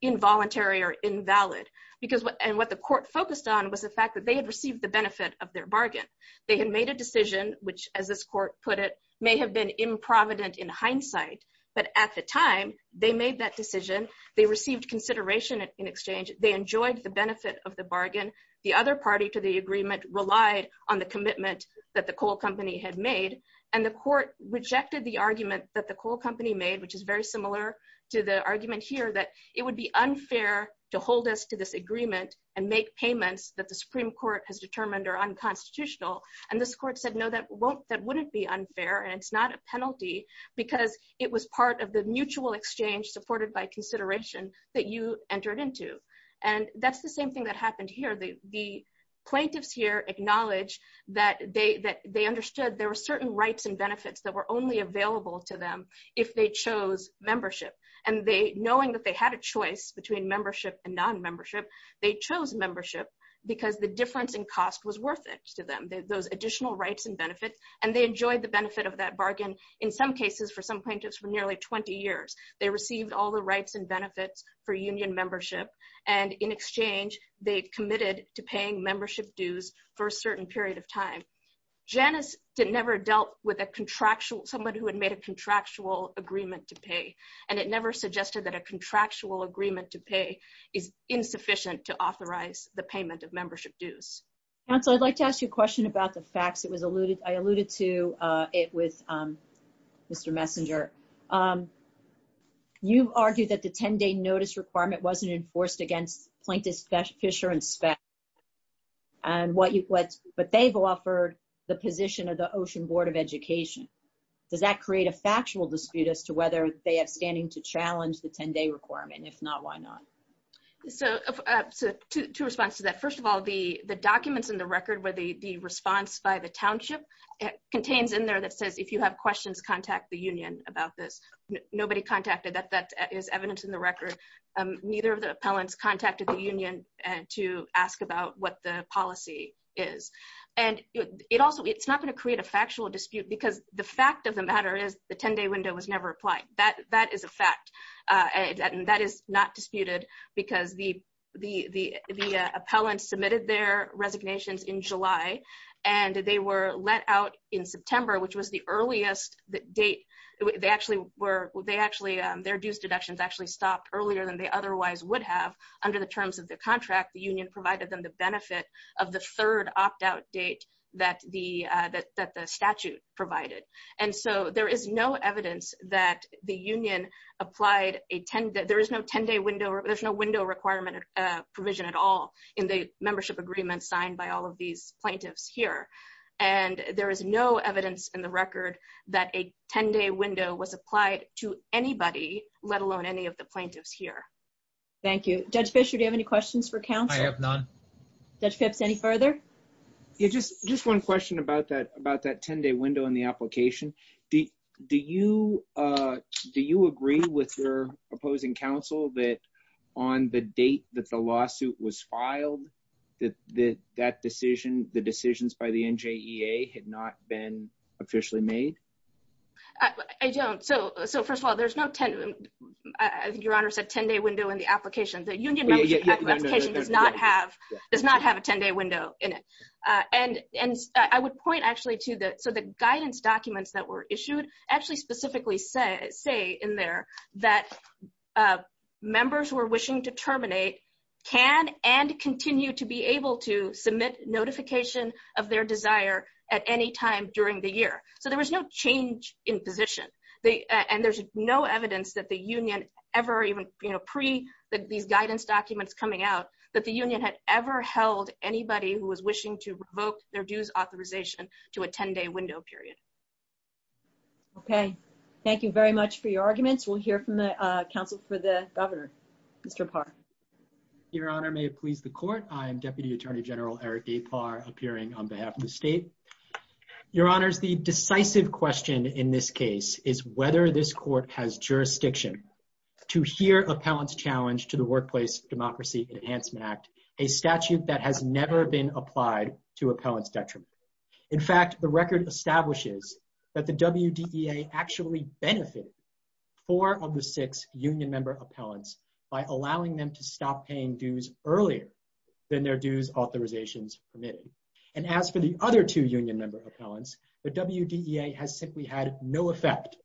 involuntary or invalid. Because what—and what the court focused on was the fact that they had received the benefit of their bargain. They had made a decision which, as this court put it, may have been improvident in hindsight. But at the time, they made that decision. They received consideration in exchange. They enjoyed the benefit of the bargain. The other party to the agreement relied on the commitment that the coal company had made. And the court rejected the argument that the coal company made, which is very similar to the argument here, that it would be unfair to hold us to this agreement and make payments that the Supreme Court has determined are unconstitutional. And this court said, no, that won't—that wouldn't be unfair, and it's not a penalty, because it was part of the mutual exchange supported by consideration that you entered into. And that's the same thing that happened here. The plaintiffs here acknowledge that they understood there were certain rights and benefits that were only available to them if they chose membership. And they—knowing that they had a choice between membership and non-membership, they chose membership because the difference in cost was worth it to them, those additional rights and benefits. And they enjoyed the benefit of that bargain, in some rights and benefits, for union membership. And in exchange, they committed to paying membership dues for a certain period of time. Janus never dealt with a contractual—someone who had made a contractual agreement to pay, and it never suggested that a contractual agreement to pay is insufficient to authorize the payment of membership dues. Counsel, I'd like to ask you a question about the facts. It was alluded—I alluded to it with Mr. Messenger. You argued that the 10-day notice requirement wasn't enforced against plaintiffs Fisher and Speck, and what you—but they've offered the position of the Ocean Board of Education. Does that create a factual dispute as to whether they have standing to challenge the 10-day requirement? If not, why not? So, two responses to that. First of all, the documents in the record where the response by the township contains in there that says, you have questions, contact the union about this. Nobody contacted that. That is evidence in the record. Neither of the appellants contacted the union to ask about what the policy is. And it also—it's not going to create a factual dispute because the fact of the matter is the 10-day window was never applied. That is a fact, and that is not disputed because the appellants submitted their resignations in July, and they were let out in September, which was the earliest date. They actually were—they actually—their dues deductions actually stopped earlier than they otherwise would have under the terms of the contract. The union provided them the benefit of the third opt-out date that the statute provided. And so, there is no evidence that the union applied a 10-day—there is no 10-day window—there's no window requirement provision at all in the membership agreement signed by all of these plaintiffs here. And there is no evidence in the record that a 10-day window was applied to anybody, let alone any of the plaintiffs here. Thank you. Judge Fisher, do you have any questions for counsel? I have none. Judge Phipps, any further? Yeah, just one question about that 10-day window in the application. Do you agree with your opposing counsel that on the date that the 10-day window had not been officially made? I don't. So, first of all, there's no 10—I think Your Honor said 10-day window in the application. The union membership application does not have— does not have a 10-day window in it. And I would point actually to the—so, the guidance documents that were issued actually specifically say in there that members who are wishing to terminate can and continue to be able to submit notification of their desire at any time during the year. So, there was no change in position. And there's no evidence that the union ever even—pre these guidance documents coming out—that the union had ever held anybody who was wishing to revoke their dues authorization to a 10-day window period. Okay. Thank you very much for your arguments. We'll hear from the counsel for the governor. Mr. Parr. Your Honor, may it please the Court, I am Deputy Attorney General Eric A. Parr, appearing on behalf of the state. Your Honors, the decisive question in this case is whether this Court has jurisdiction to hear appellant's challenge to the Workplace Democracy Enhancement Act, a statute that has never been applied to appellant's detriment. In fact, the record establishes that the WDEA actually benefited four of the six union member appellants by allowing them to stop paying dues earlier than their dues authorizations permitted. And as for the other two union member appellants, the WDEA has simply had no effect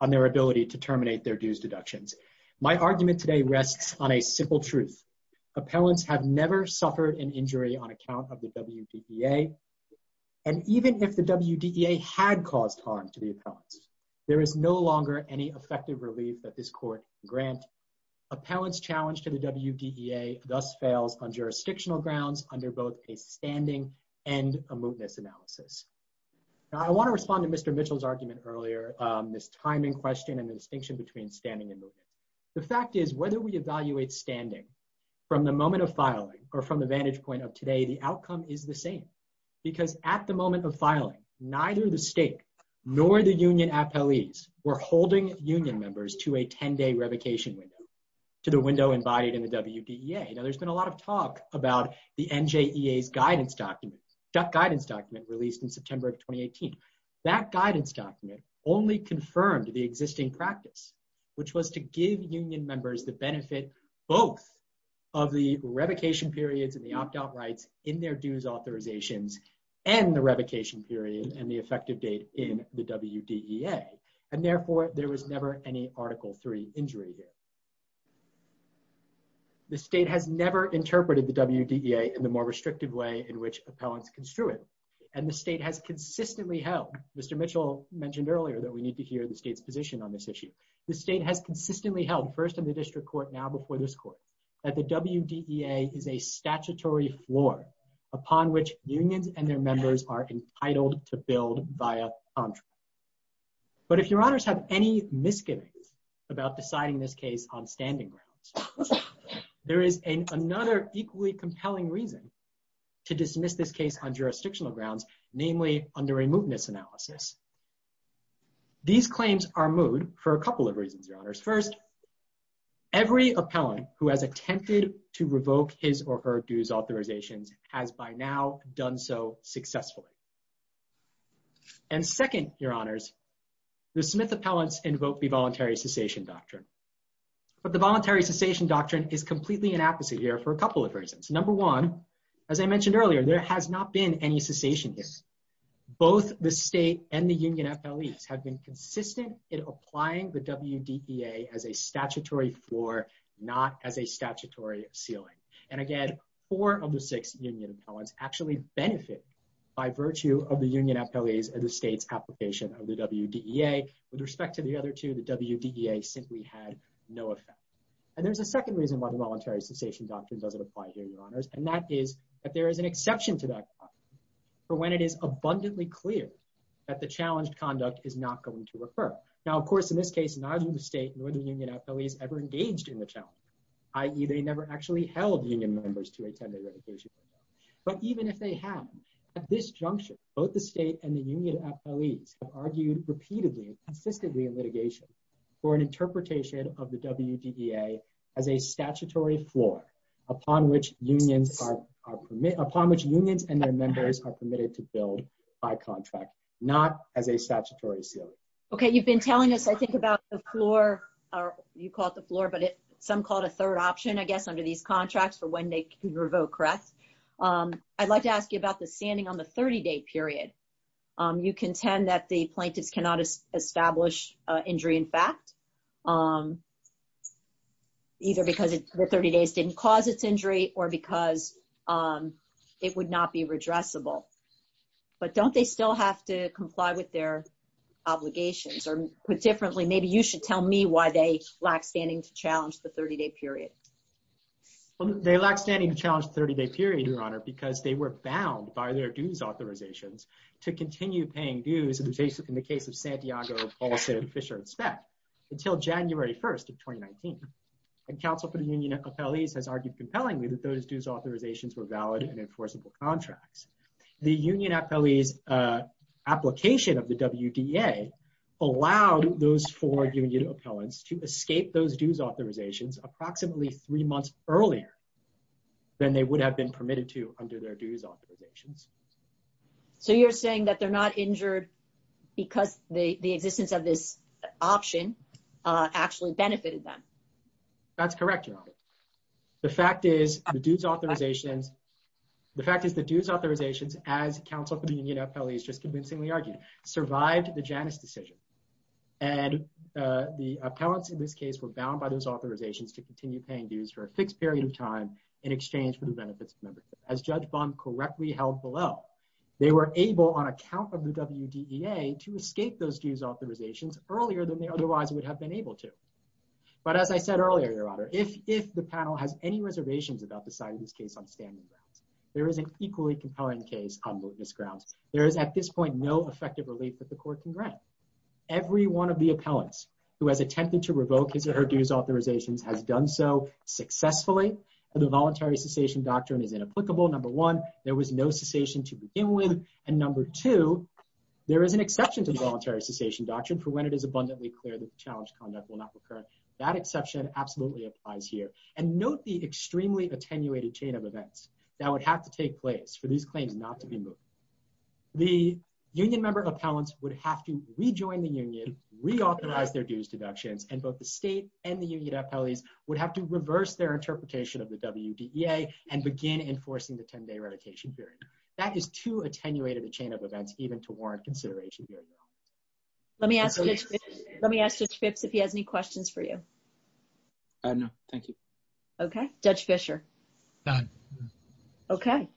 on their ability to terminate their dues deductions. My argument today rests on a simple truth. Appellants have never suffered an injury on account of the WDEA. And even if the WDEA had caused harm to the appellants, there is no longer any effective relief that this Court can grant. Appellant's challenge to the WDEA thus fails on jurisdictional grounds under both a standing and a mootness analysis. Now, I want to respond to Mr. Mitchell's argument earlier, this timing question and the distinction between standing and mootness. The fact is, whether we evaluate standing from the moment of filing or from the vantage point of today, the outcome is the same. Because at the moment of filing, neither the state nor the union appellees were holding union members to a 10-day revocation window, to the window embodied in the WDEA. Now, there's been a lot of talk about the NJEA's guidance document, that guidance document released in September of 2018. That guidance document only confirmed the existing practice, which was to give union members the benefit both of the revocation periods and the opt-out rights in their dues authorizations and the revocation period and the effective date in the WDEA. And therefore, there was never any Article III injury here. The state has never interpreted the WDEA in the more restrictive way in which appellants construe it. And the state has consistently held, Mr. Mitchell mentioned earlier that we need to hear the state's position on this issue. The state has consistently held, first in the District Court, now before this Court, that the WDEA is a statutory floor upon which unions and their members are entitled to build via contract. But if Your Honors have any misgivings about deciding this case on standing grounds, there is another equally compelling reason to dismiss this case on jurisdictional grounds, namely under a mootness analysis. These claims are moot for a couple of reasons, Your Honors. First, every appellant who has attempted to revoke his or her dues authorizations has by now done so successfully. And second, Your Honors, the Smith appellants invoked the Voluntary Cessation Doctrine. But the Voluntary Cessation Doctrine is completely an opposite here for a couple of reasons. Number one, as I mentioned earlier, there has not been any cessation here. Both the state and the union appellees have been consistent in applying the WDEA as a statutory floor, not as a statutory ceiling. And again, four of the six union appellants actually benefit by virtue of the union appellees and the state's application of the WDEA. With respect to the other two, the WDEA simply had no effect. And there's a second reason why the Voluntary Cessation Doctrine doesn't apply here, Your Honors, and that is that there is an exception to that that the challenged conduct is not going to occur. Now, of course, in this case, neither the state nor the union appellees ever engaged in the challenge, i.e. they never actually held union members to a tender revocation. But even if they have, at this juncture, both the state and the union appellees have argued repeatedly and consistently in litigation for an interpretation of the WDEA as a statutory floor upon which unions and their members are not eligible. Okay. You've been telling us, I think, about the floor, or you call it the floor, but some call it a third option, I guess, under these contracts for when they can revoke, correct? I'd like to ask you about the standing on the 30-day period. You contend that the plaintiffs cannot establish injury in fact, either because the 30 days didn't cause its injury or because it would not be redressable. But don't they still have to comply with their obligations? Or put differently, maybe you should tell me why they lack standing to challenge the 30-day period. Well, they lack standing to challenge the 30-day period, Your Honor, because they were bound by their dues authorizations to continue paying dues in the case of Santiago, Paulson, Fisher, and Speck until January 1st of 2019. And counsel for the union appellees has argued compellingly that those dues authorizations were valid and enforceable contracts. The union appellees application of the WDA allowed those four union appellants to escape those dues authorizations approximately three months earlier than they would have been permitted to under their dues authorizations. So you're saying that they're not injured because the existence of this option actually benefited them. That's correct, Your Honor. The fact is the dues authorizations, the fact is the dues authorizations as counsel for the union appellees just convincingly argued, survived the Janus decision. And the appellants in this case were bound by those authorizations to continue paying dues for a fixed period of time in exchange for the benefits of membership. As Judge Bond correctly held below, they were able on account of the WDEA to escape those authorizations earlier than they otherwise would have been able to. But as I said earlier, Your Honor, if the panel has any reservations about the side of this case on standing grounds, there is an equally compelling case on mootness grounds. There is at this point no effective relief that the court can grant. Every one of the appellants who has attempted to revoke his or her dues authorizations has done so successfully. The voluntary cessation doctrine is inapplicable. Number one, there was no cessation to begin with. And number two, there is an exception to the voluntary cessation doctrine for when it is abundantly clear that the challenge conduct will not recur. That exception absolutely applies here. And note the extremely attenuated chain of events that would have to take place for these claims not to be moved. The union member appellants would have to rejoin the union, reauthorize their dues deductions, and both the state and the union appellees would have to reverse their interpretation of the WDEA and begin enforcing the 10-day consideration. Let me ask Judge Phipps if he has any questions for you. No, thank you. Okay. Judge Fischer? None. Okay.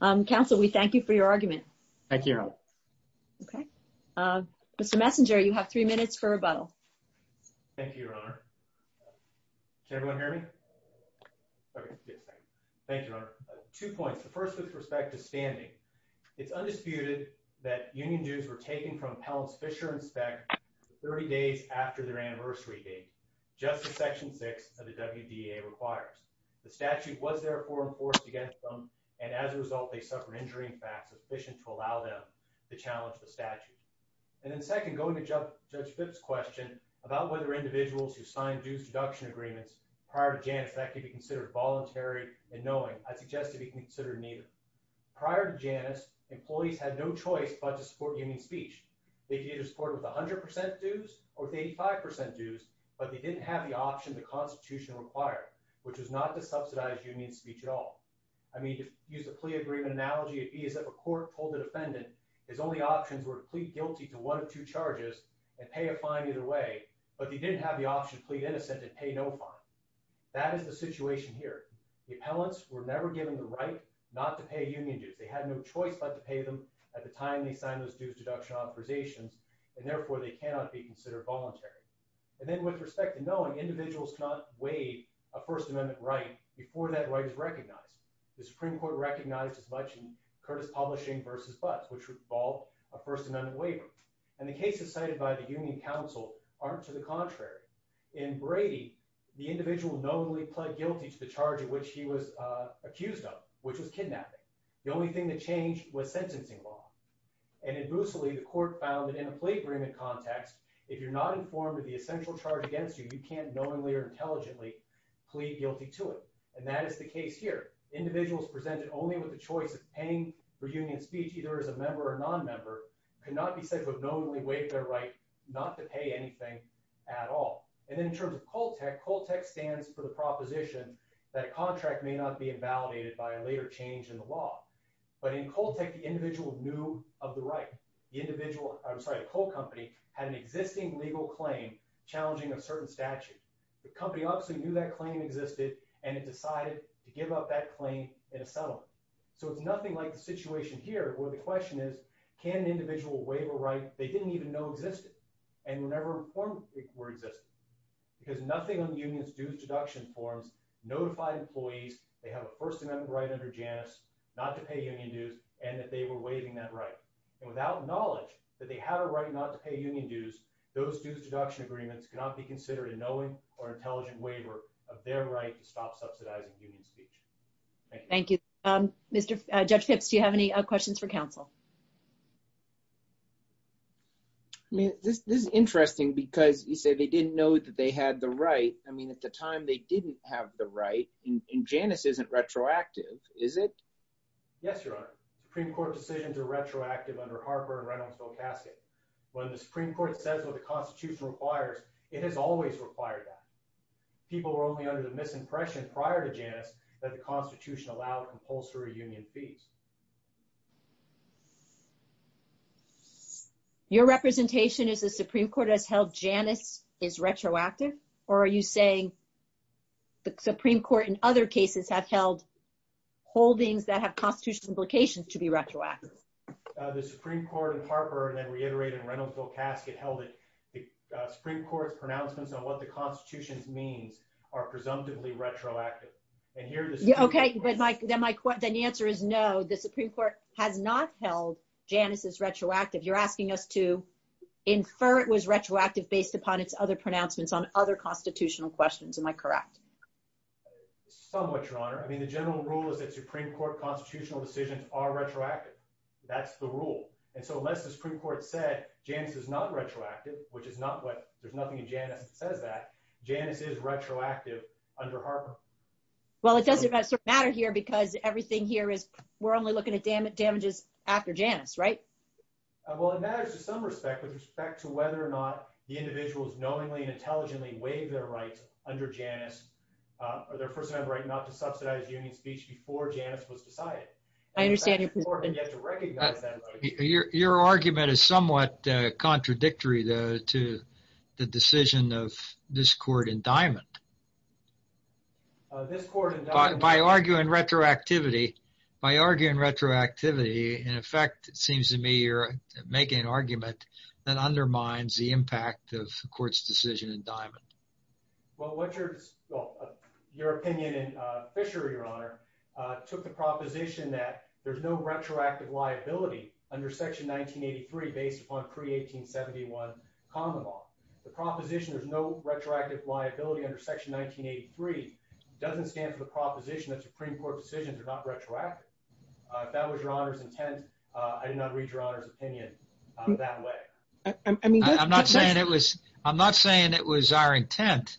Counsel, we thank you for your argument. Thank you, Your Honor. Okay. Mr. Messenger, you have three minutes for rebuttal. Thank you, Your Honor. Can everyone hear me? Okay, yes. Thank you, Your Honor. Two points. The first with respect to standing, it's undisputed that union dues were taken from appellants Fischer and Speck 30 days after their anniversary date, just as Section 6 of the WDEA requires. The statute was therefore enforced against them, and as a result, they suffered injury and facts sufficient to allow them to challenge the statute. And then second, going to Judge Phipps' question about whether individuals who signed dues deduction agreements prior to Janus, that could be considered voluntary and knowing, I'd suggest it be considered neither. Prior to Janus, employees had no choice but to support union speech. They could either support it with 100 percent dues or 85 percent dues, but they didn't have the option the Constitution required, which was not to subsidize union speech at all. I mean, to use the plea agreement analogy, it'd be as if a court told the defendant his only options were to plead guilty to one of two charges and pay a fine either way, but they didn't have the option to plead innocent and pay no fine. That is the situation here. The appellants were never given the right not to pay union dues. They had no choice but to pay them at the time they signed those dues deduction authorizations, and therefore they cannot be considered voluntary. And then with respect to knowing, individuals cannot waive a First Amendment right before that right is recognized. The Supreme Court recognized as much in Curtis Publishing v. Butts, which involved a First Amendment waiver, and the cases cited by the Union Council aren't to the contrary. In Brady, the individual knowingly pled guilty to the charge at which he was accused of, which was kidnapping. The only thing that changed was sentencing law. And in Mooseley, the court found that in a plea agreement context, if you're not informed of the essential charge against you, you can't knowingly or intelligently plead guilty to it. And that is the case here. Individuals presented only with the choice of paying for union speech, either as a right not to pay anything at all. And then in terms of Coltec, Coltec stands for the proposition that a contract may not be invalidated by a later change in the law. But in Coltec, the individual knew of the right. The individual, I'm sorry, the coal company had an existing legal claim challenging a certain statute. The company obviously knew that claim existed, and it decided to give up that claim in a settlement. So it's nothing like the situation here where the question is, can an individual waive a right they didn't even know existed and were never informed it were existing? Because nothing on the union's dues deduction forms notified employees they have a first amendment right under Janus not to pay union dues and that they were waiving that right. And without knowledge that they had a right not to pay union dues, those dues deduction agreements cannot be considered a knowing or intelligent waiver of their right to stop subsidizing union speech. Thank you. Thank you. Judge Phipps, do you have any questions for counsel? I mean, this is interesting, because you said they didn't know that they had the right. I mean, at the time, they didn't have the right. And Janus isn't retroactive, is it? Yes, Your Honor. Supreme Court decisions are retroactive under Harper and Reynoldsville casket. When the Supreme Court says what the Constitution requires, it has always required that. People were only under the misimpression prior to Janus that the Constitution allowed compulsory union fees. Your representation is the Supreme Court has held Janus is retroactive, or are you saying the Supreme Court in other cases have held holdings that have constitutional implications to be retroactive? The Supreme Court in Harper and then reiterated Reynoldsville casket held it. The Supreme Court's pronouncements on what the Constitution means are presumptively retroactive. Okay, but then the answer is no. The Supreme Court has not held Janus is retroactive. You're asking us to infer it was retroactive based upon its other pronouncements on other constitutional questions. Am I correct? Somewhat, Your Honor. I mean, the general rule is that Supreme Court constitutional decisions are retroactive. That's the rule. And so unless the Supreme Court said Janus is not retroactive, which is not what, there's nothing in Janus that Well, it doesn't matter here because everything here is we're only looking at damages after Janus, right? Well, it matters to some respect with respect to whether or not the individuals knowingly and intelligently waive their rights under Janus, or their first right not to subsidize union speech before Janus was decided. I understand. Your argument is somewhat contradictory to the decision of this court in Diamond. By arguing retroactivity, by arguing retroactivity, in effect, it seems to me you're making an argument that undermines the impact of court's decision in Diamond. Well, your opinion in Fisher, Your Honor, took the proposition that there's no retroactive liability under Section 1983. It doesn't stand for the proposition that Supreme Court decisions are not retroactive. That was Your Honor's intent. I did not read Your Honor's opinion that way. I'm not saying it was our intent.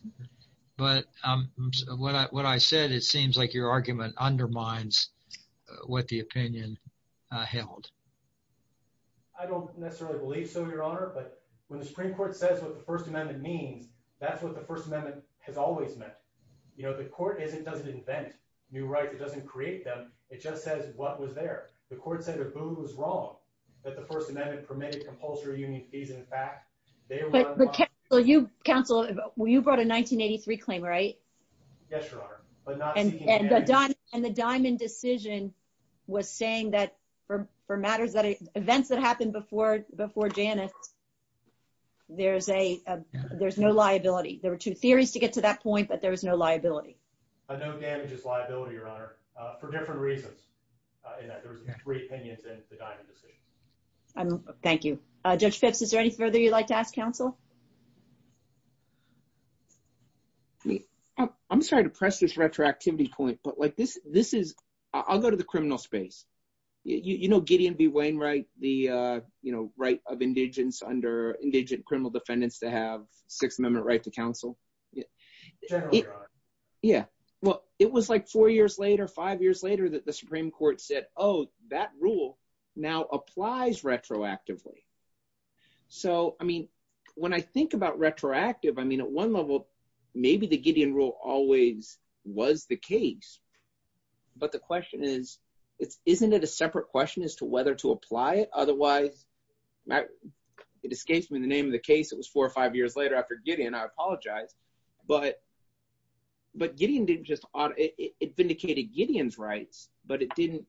But what I said, it seems like your argument undermines what the opinion held. I don't necessarily believe so, Your Honor. But the Supreme Court says what the First Amendment means, that's what the First Amendment has always meant. You know, the court doesn't invent new rights. It doesn't create them. It just says what was there. The court said Abu was wrong, that the First Amendment permitted compulsory union fees. In fact, they were unlawful. Counsel, you brought a 1983 claim, right? Yes, Your Honor. And the Diamond decision was saying that for events that happened before Janice, there's no liability. There were two theories to get to that point, but there was no liability. No damage is liability, Your Honor, for different reasons. There were three opinions in the Diamond decision. Thank you. Judge Phipps, is there any further you'd like to ask counsel? I'm sorry to press this retroactivity point, but I'll go to the criminal space. You know Gideon B. Wainwright, the right of indigents under indigent criminal defendants to have Sixth Amendment right to counsel? Yeah, well, it was like four years later, five years later that the Supreme Court said, oh, that rule now applies retroactively. So, I mean, when I think about retroactive, I mean, at one level, maybe the Gideon rule always was the case. But the question is, isn't it a separate question as to whether to apply it? Otherwise, it escapes me the name of the case, it was four or five years later after Gideon, I apologize. But Gideon didn't just, it vindicated Gideon's rights, but it didn't,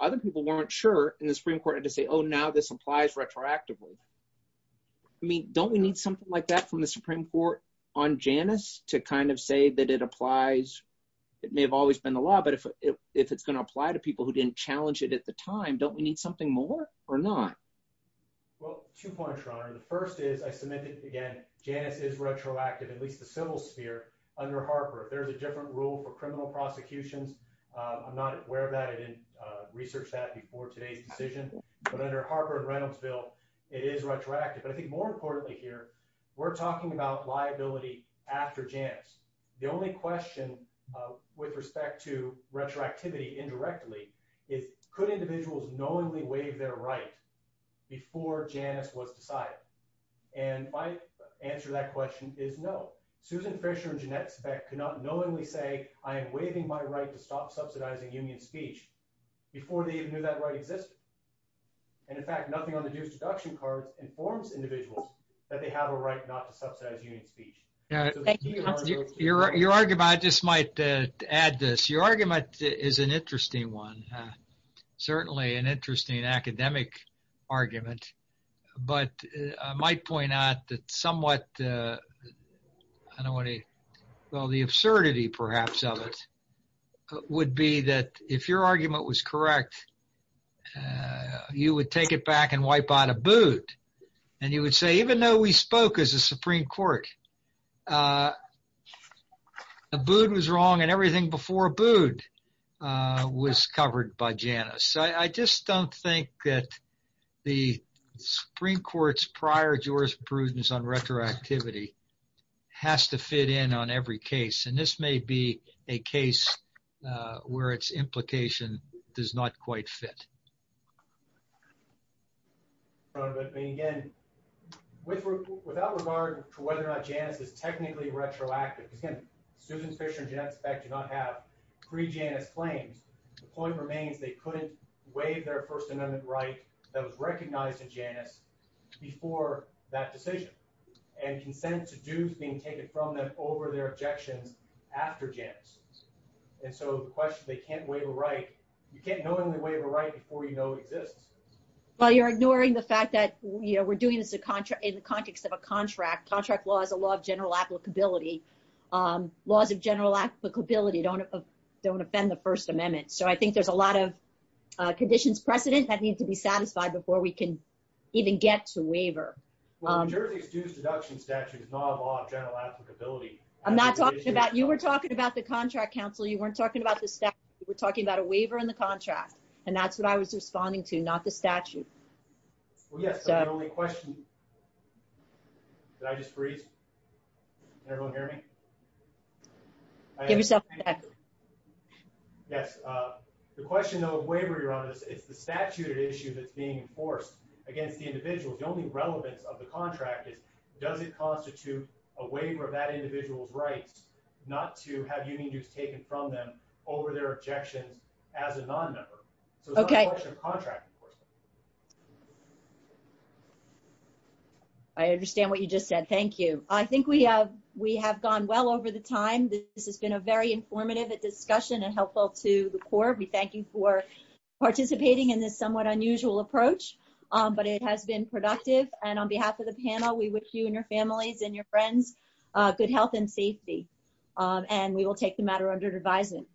other people weren't sure and the Supreme Court had to say, oh, now this applies retroactively. I mean, don't we need something like that from the Supreme Court on Janice to kind of say that it applies, it may have always been the law, but if it's going to apply to people who didn't challenge it at the time, don't we need something more or not? Well, two points, Your Honor. The first is, I submitted again, Janice is retroactive, at least the civil sphere under Harper. There's a different rule for criminal prosecutions. I'm not aware of that, I didn't research that before today's decision. But under Harper and Reynolds' bill, it is retroactive. But I think more importantly here, we're talking about liability after Janice. The only question with respect to retroactivity indirectly is, could individuals knowingly waive their right before Janice was decided? And my answer to that question is no. Susan Fisher and Jeanette Speck could not knowingly say, I am waiving my right to stop subsidizing union speech before they even knew that right existed. And in fact, nothing on the dues deduction cards informs individuals that they have a right not to subsidize union speech. Yeah. Your argument, I just might add this, your argument is an interesting one. Certainly an interesting academic argument. But I might point out that somewhat, I don't want to, well, the absurdity perhaps of it would be that if your argument was correct, you would take it back and wipe out a boot. And you would say, even though we spoke as a Supreme Court, a boot was wrong and everything before a boot was covered by Janice. So, I just don't think that the Supreme Court's prior jurisprudence on retroactivity has to fit in on every case. And this may be a case where its implication does not quite fit. I mean, again, without regard to whether or not Janice is technically retroactive, because again, Susan Fisher and Jeanette Speck did not have pre-Janice claims. The point remains they couldn't waive their First Amendment right that was recognized in Janice before that decision and consent to dues being taken from them over their objections after Janice. And so the question can't waive a right. You can't knowingly waive a right before you know it exists. Well, you're ignoring the fact that we're doing this in the context of a contract. Contract law is a law of general applicability. Laws of general applicability don't offend the First Amendment. So, I think there's a lot of conditions precedent that need to be satisfied before we can even get to waiver. Well, New Jersey's dues deduction statute is not a law of general applicability. I'm not talking about, you were talking about the contract counsel. You weren't talking about the statute. We're talking about a waiver in the contract. And that's what I was responding to, not the statute. Well, yes. The only question... Did I just freeze? Can everyone hear me? Give yourself a second. Yes. The question though of waiver, Your Honor, is the statute at issue that's being enforced against the individuals. The only relevance of the contract is does it over their objections as a non-member. Okay. I understand what you just said. Thank you. I think we have gone well over the time. This has been a very informative discussion and helpful to the court. We thank you for participating in this somewhat unusual approach, but it has been productive. And on behalf of the panel, we wish you and your families and your friends good health and safety. And we will take the matter under advisement.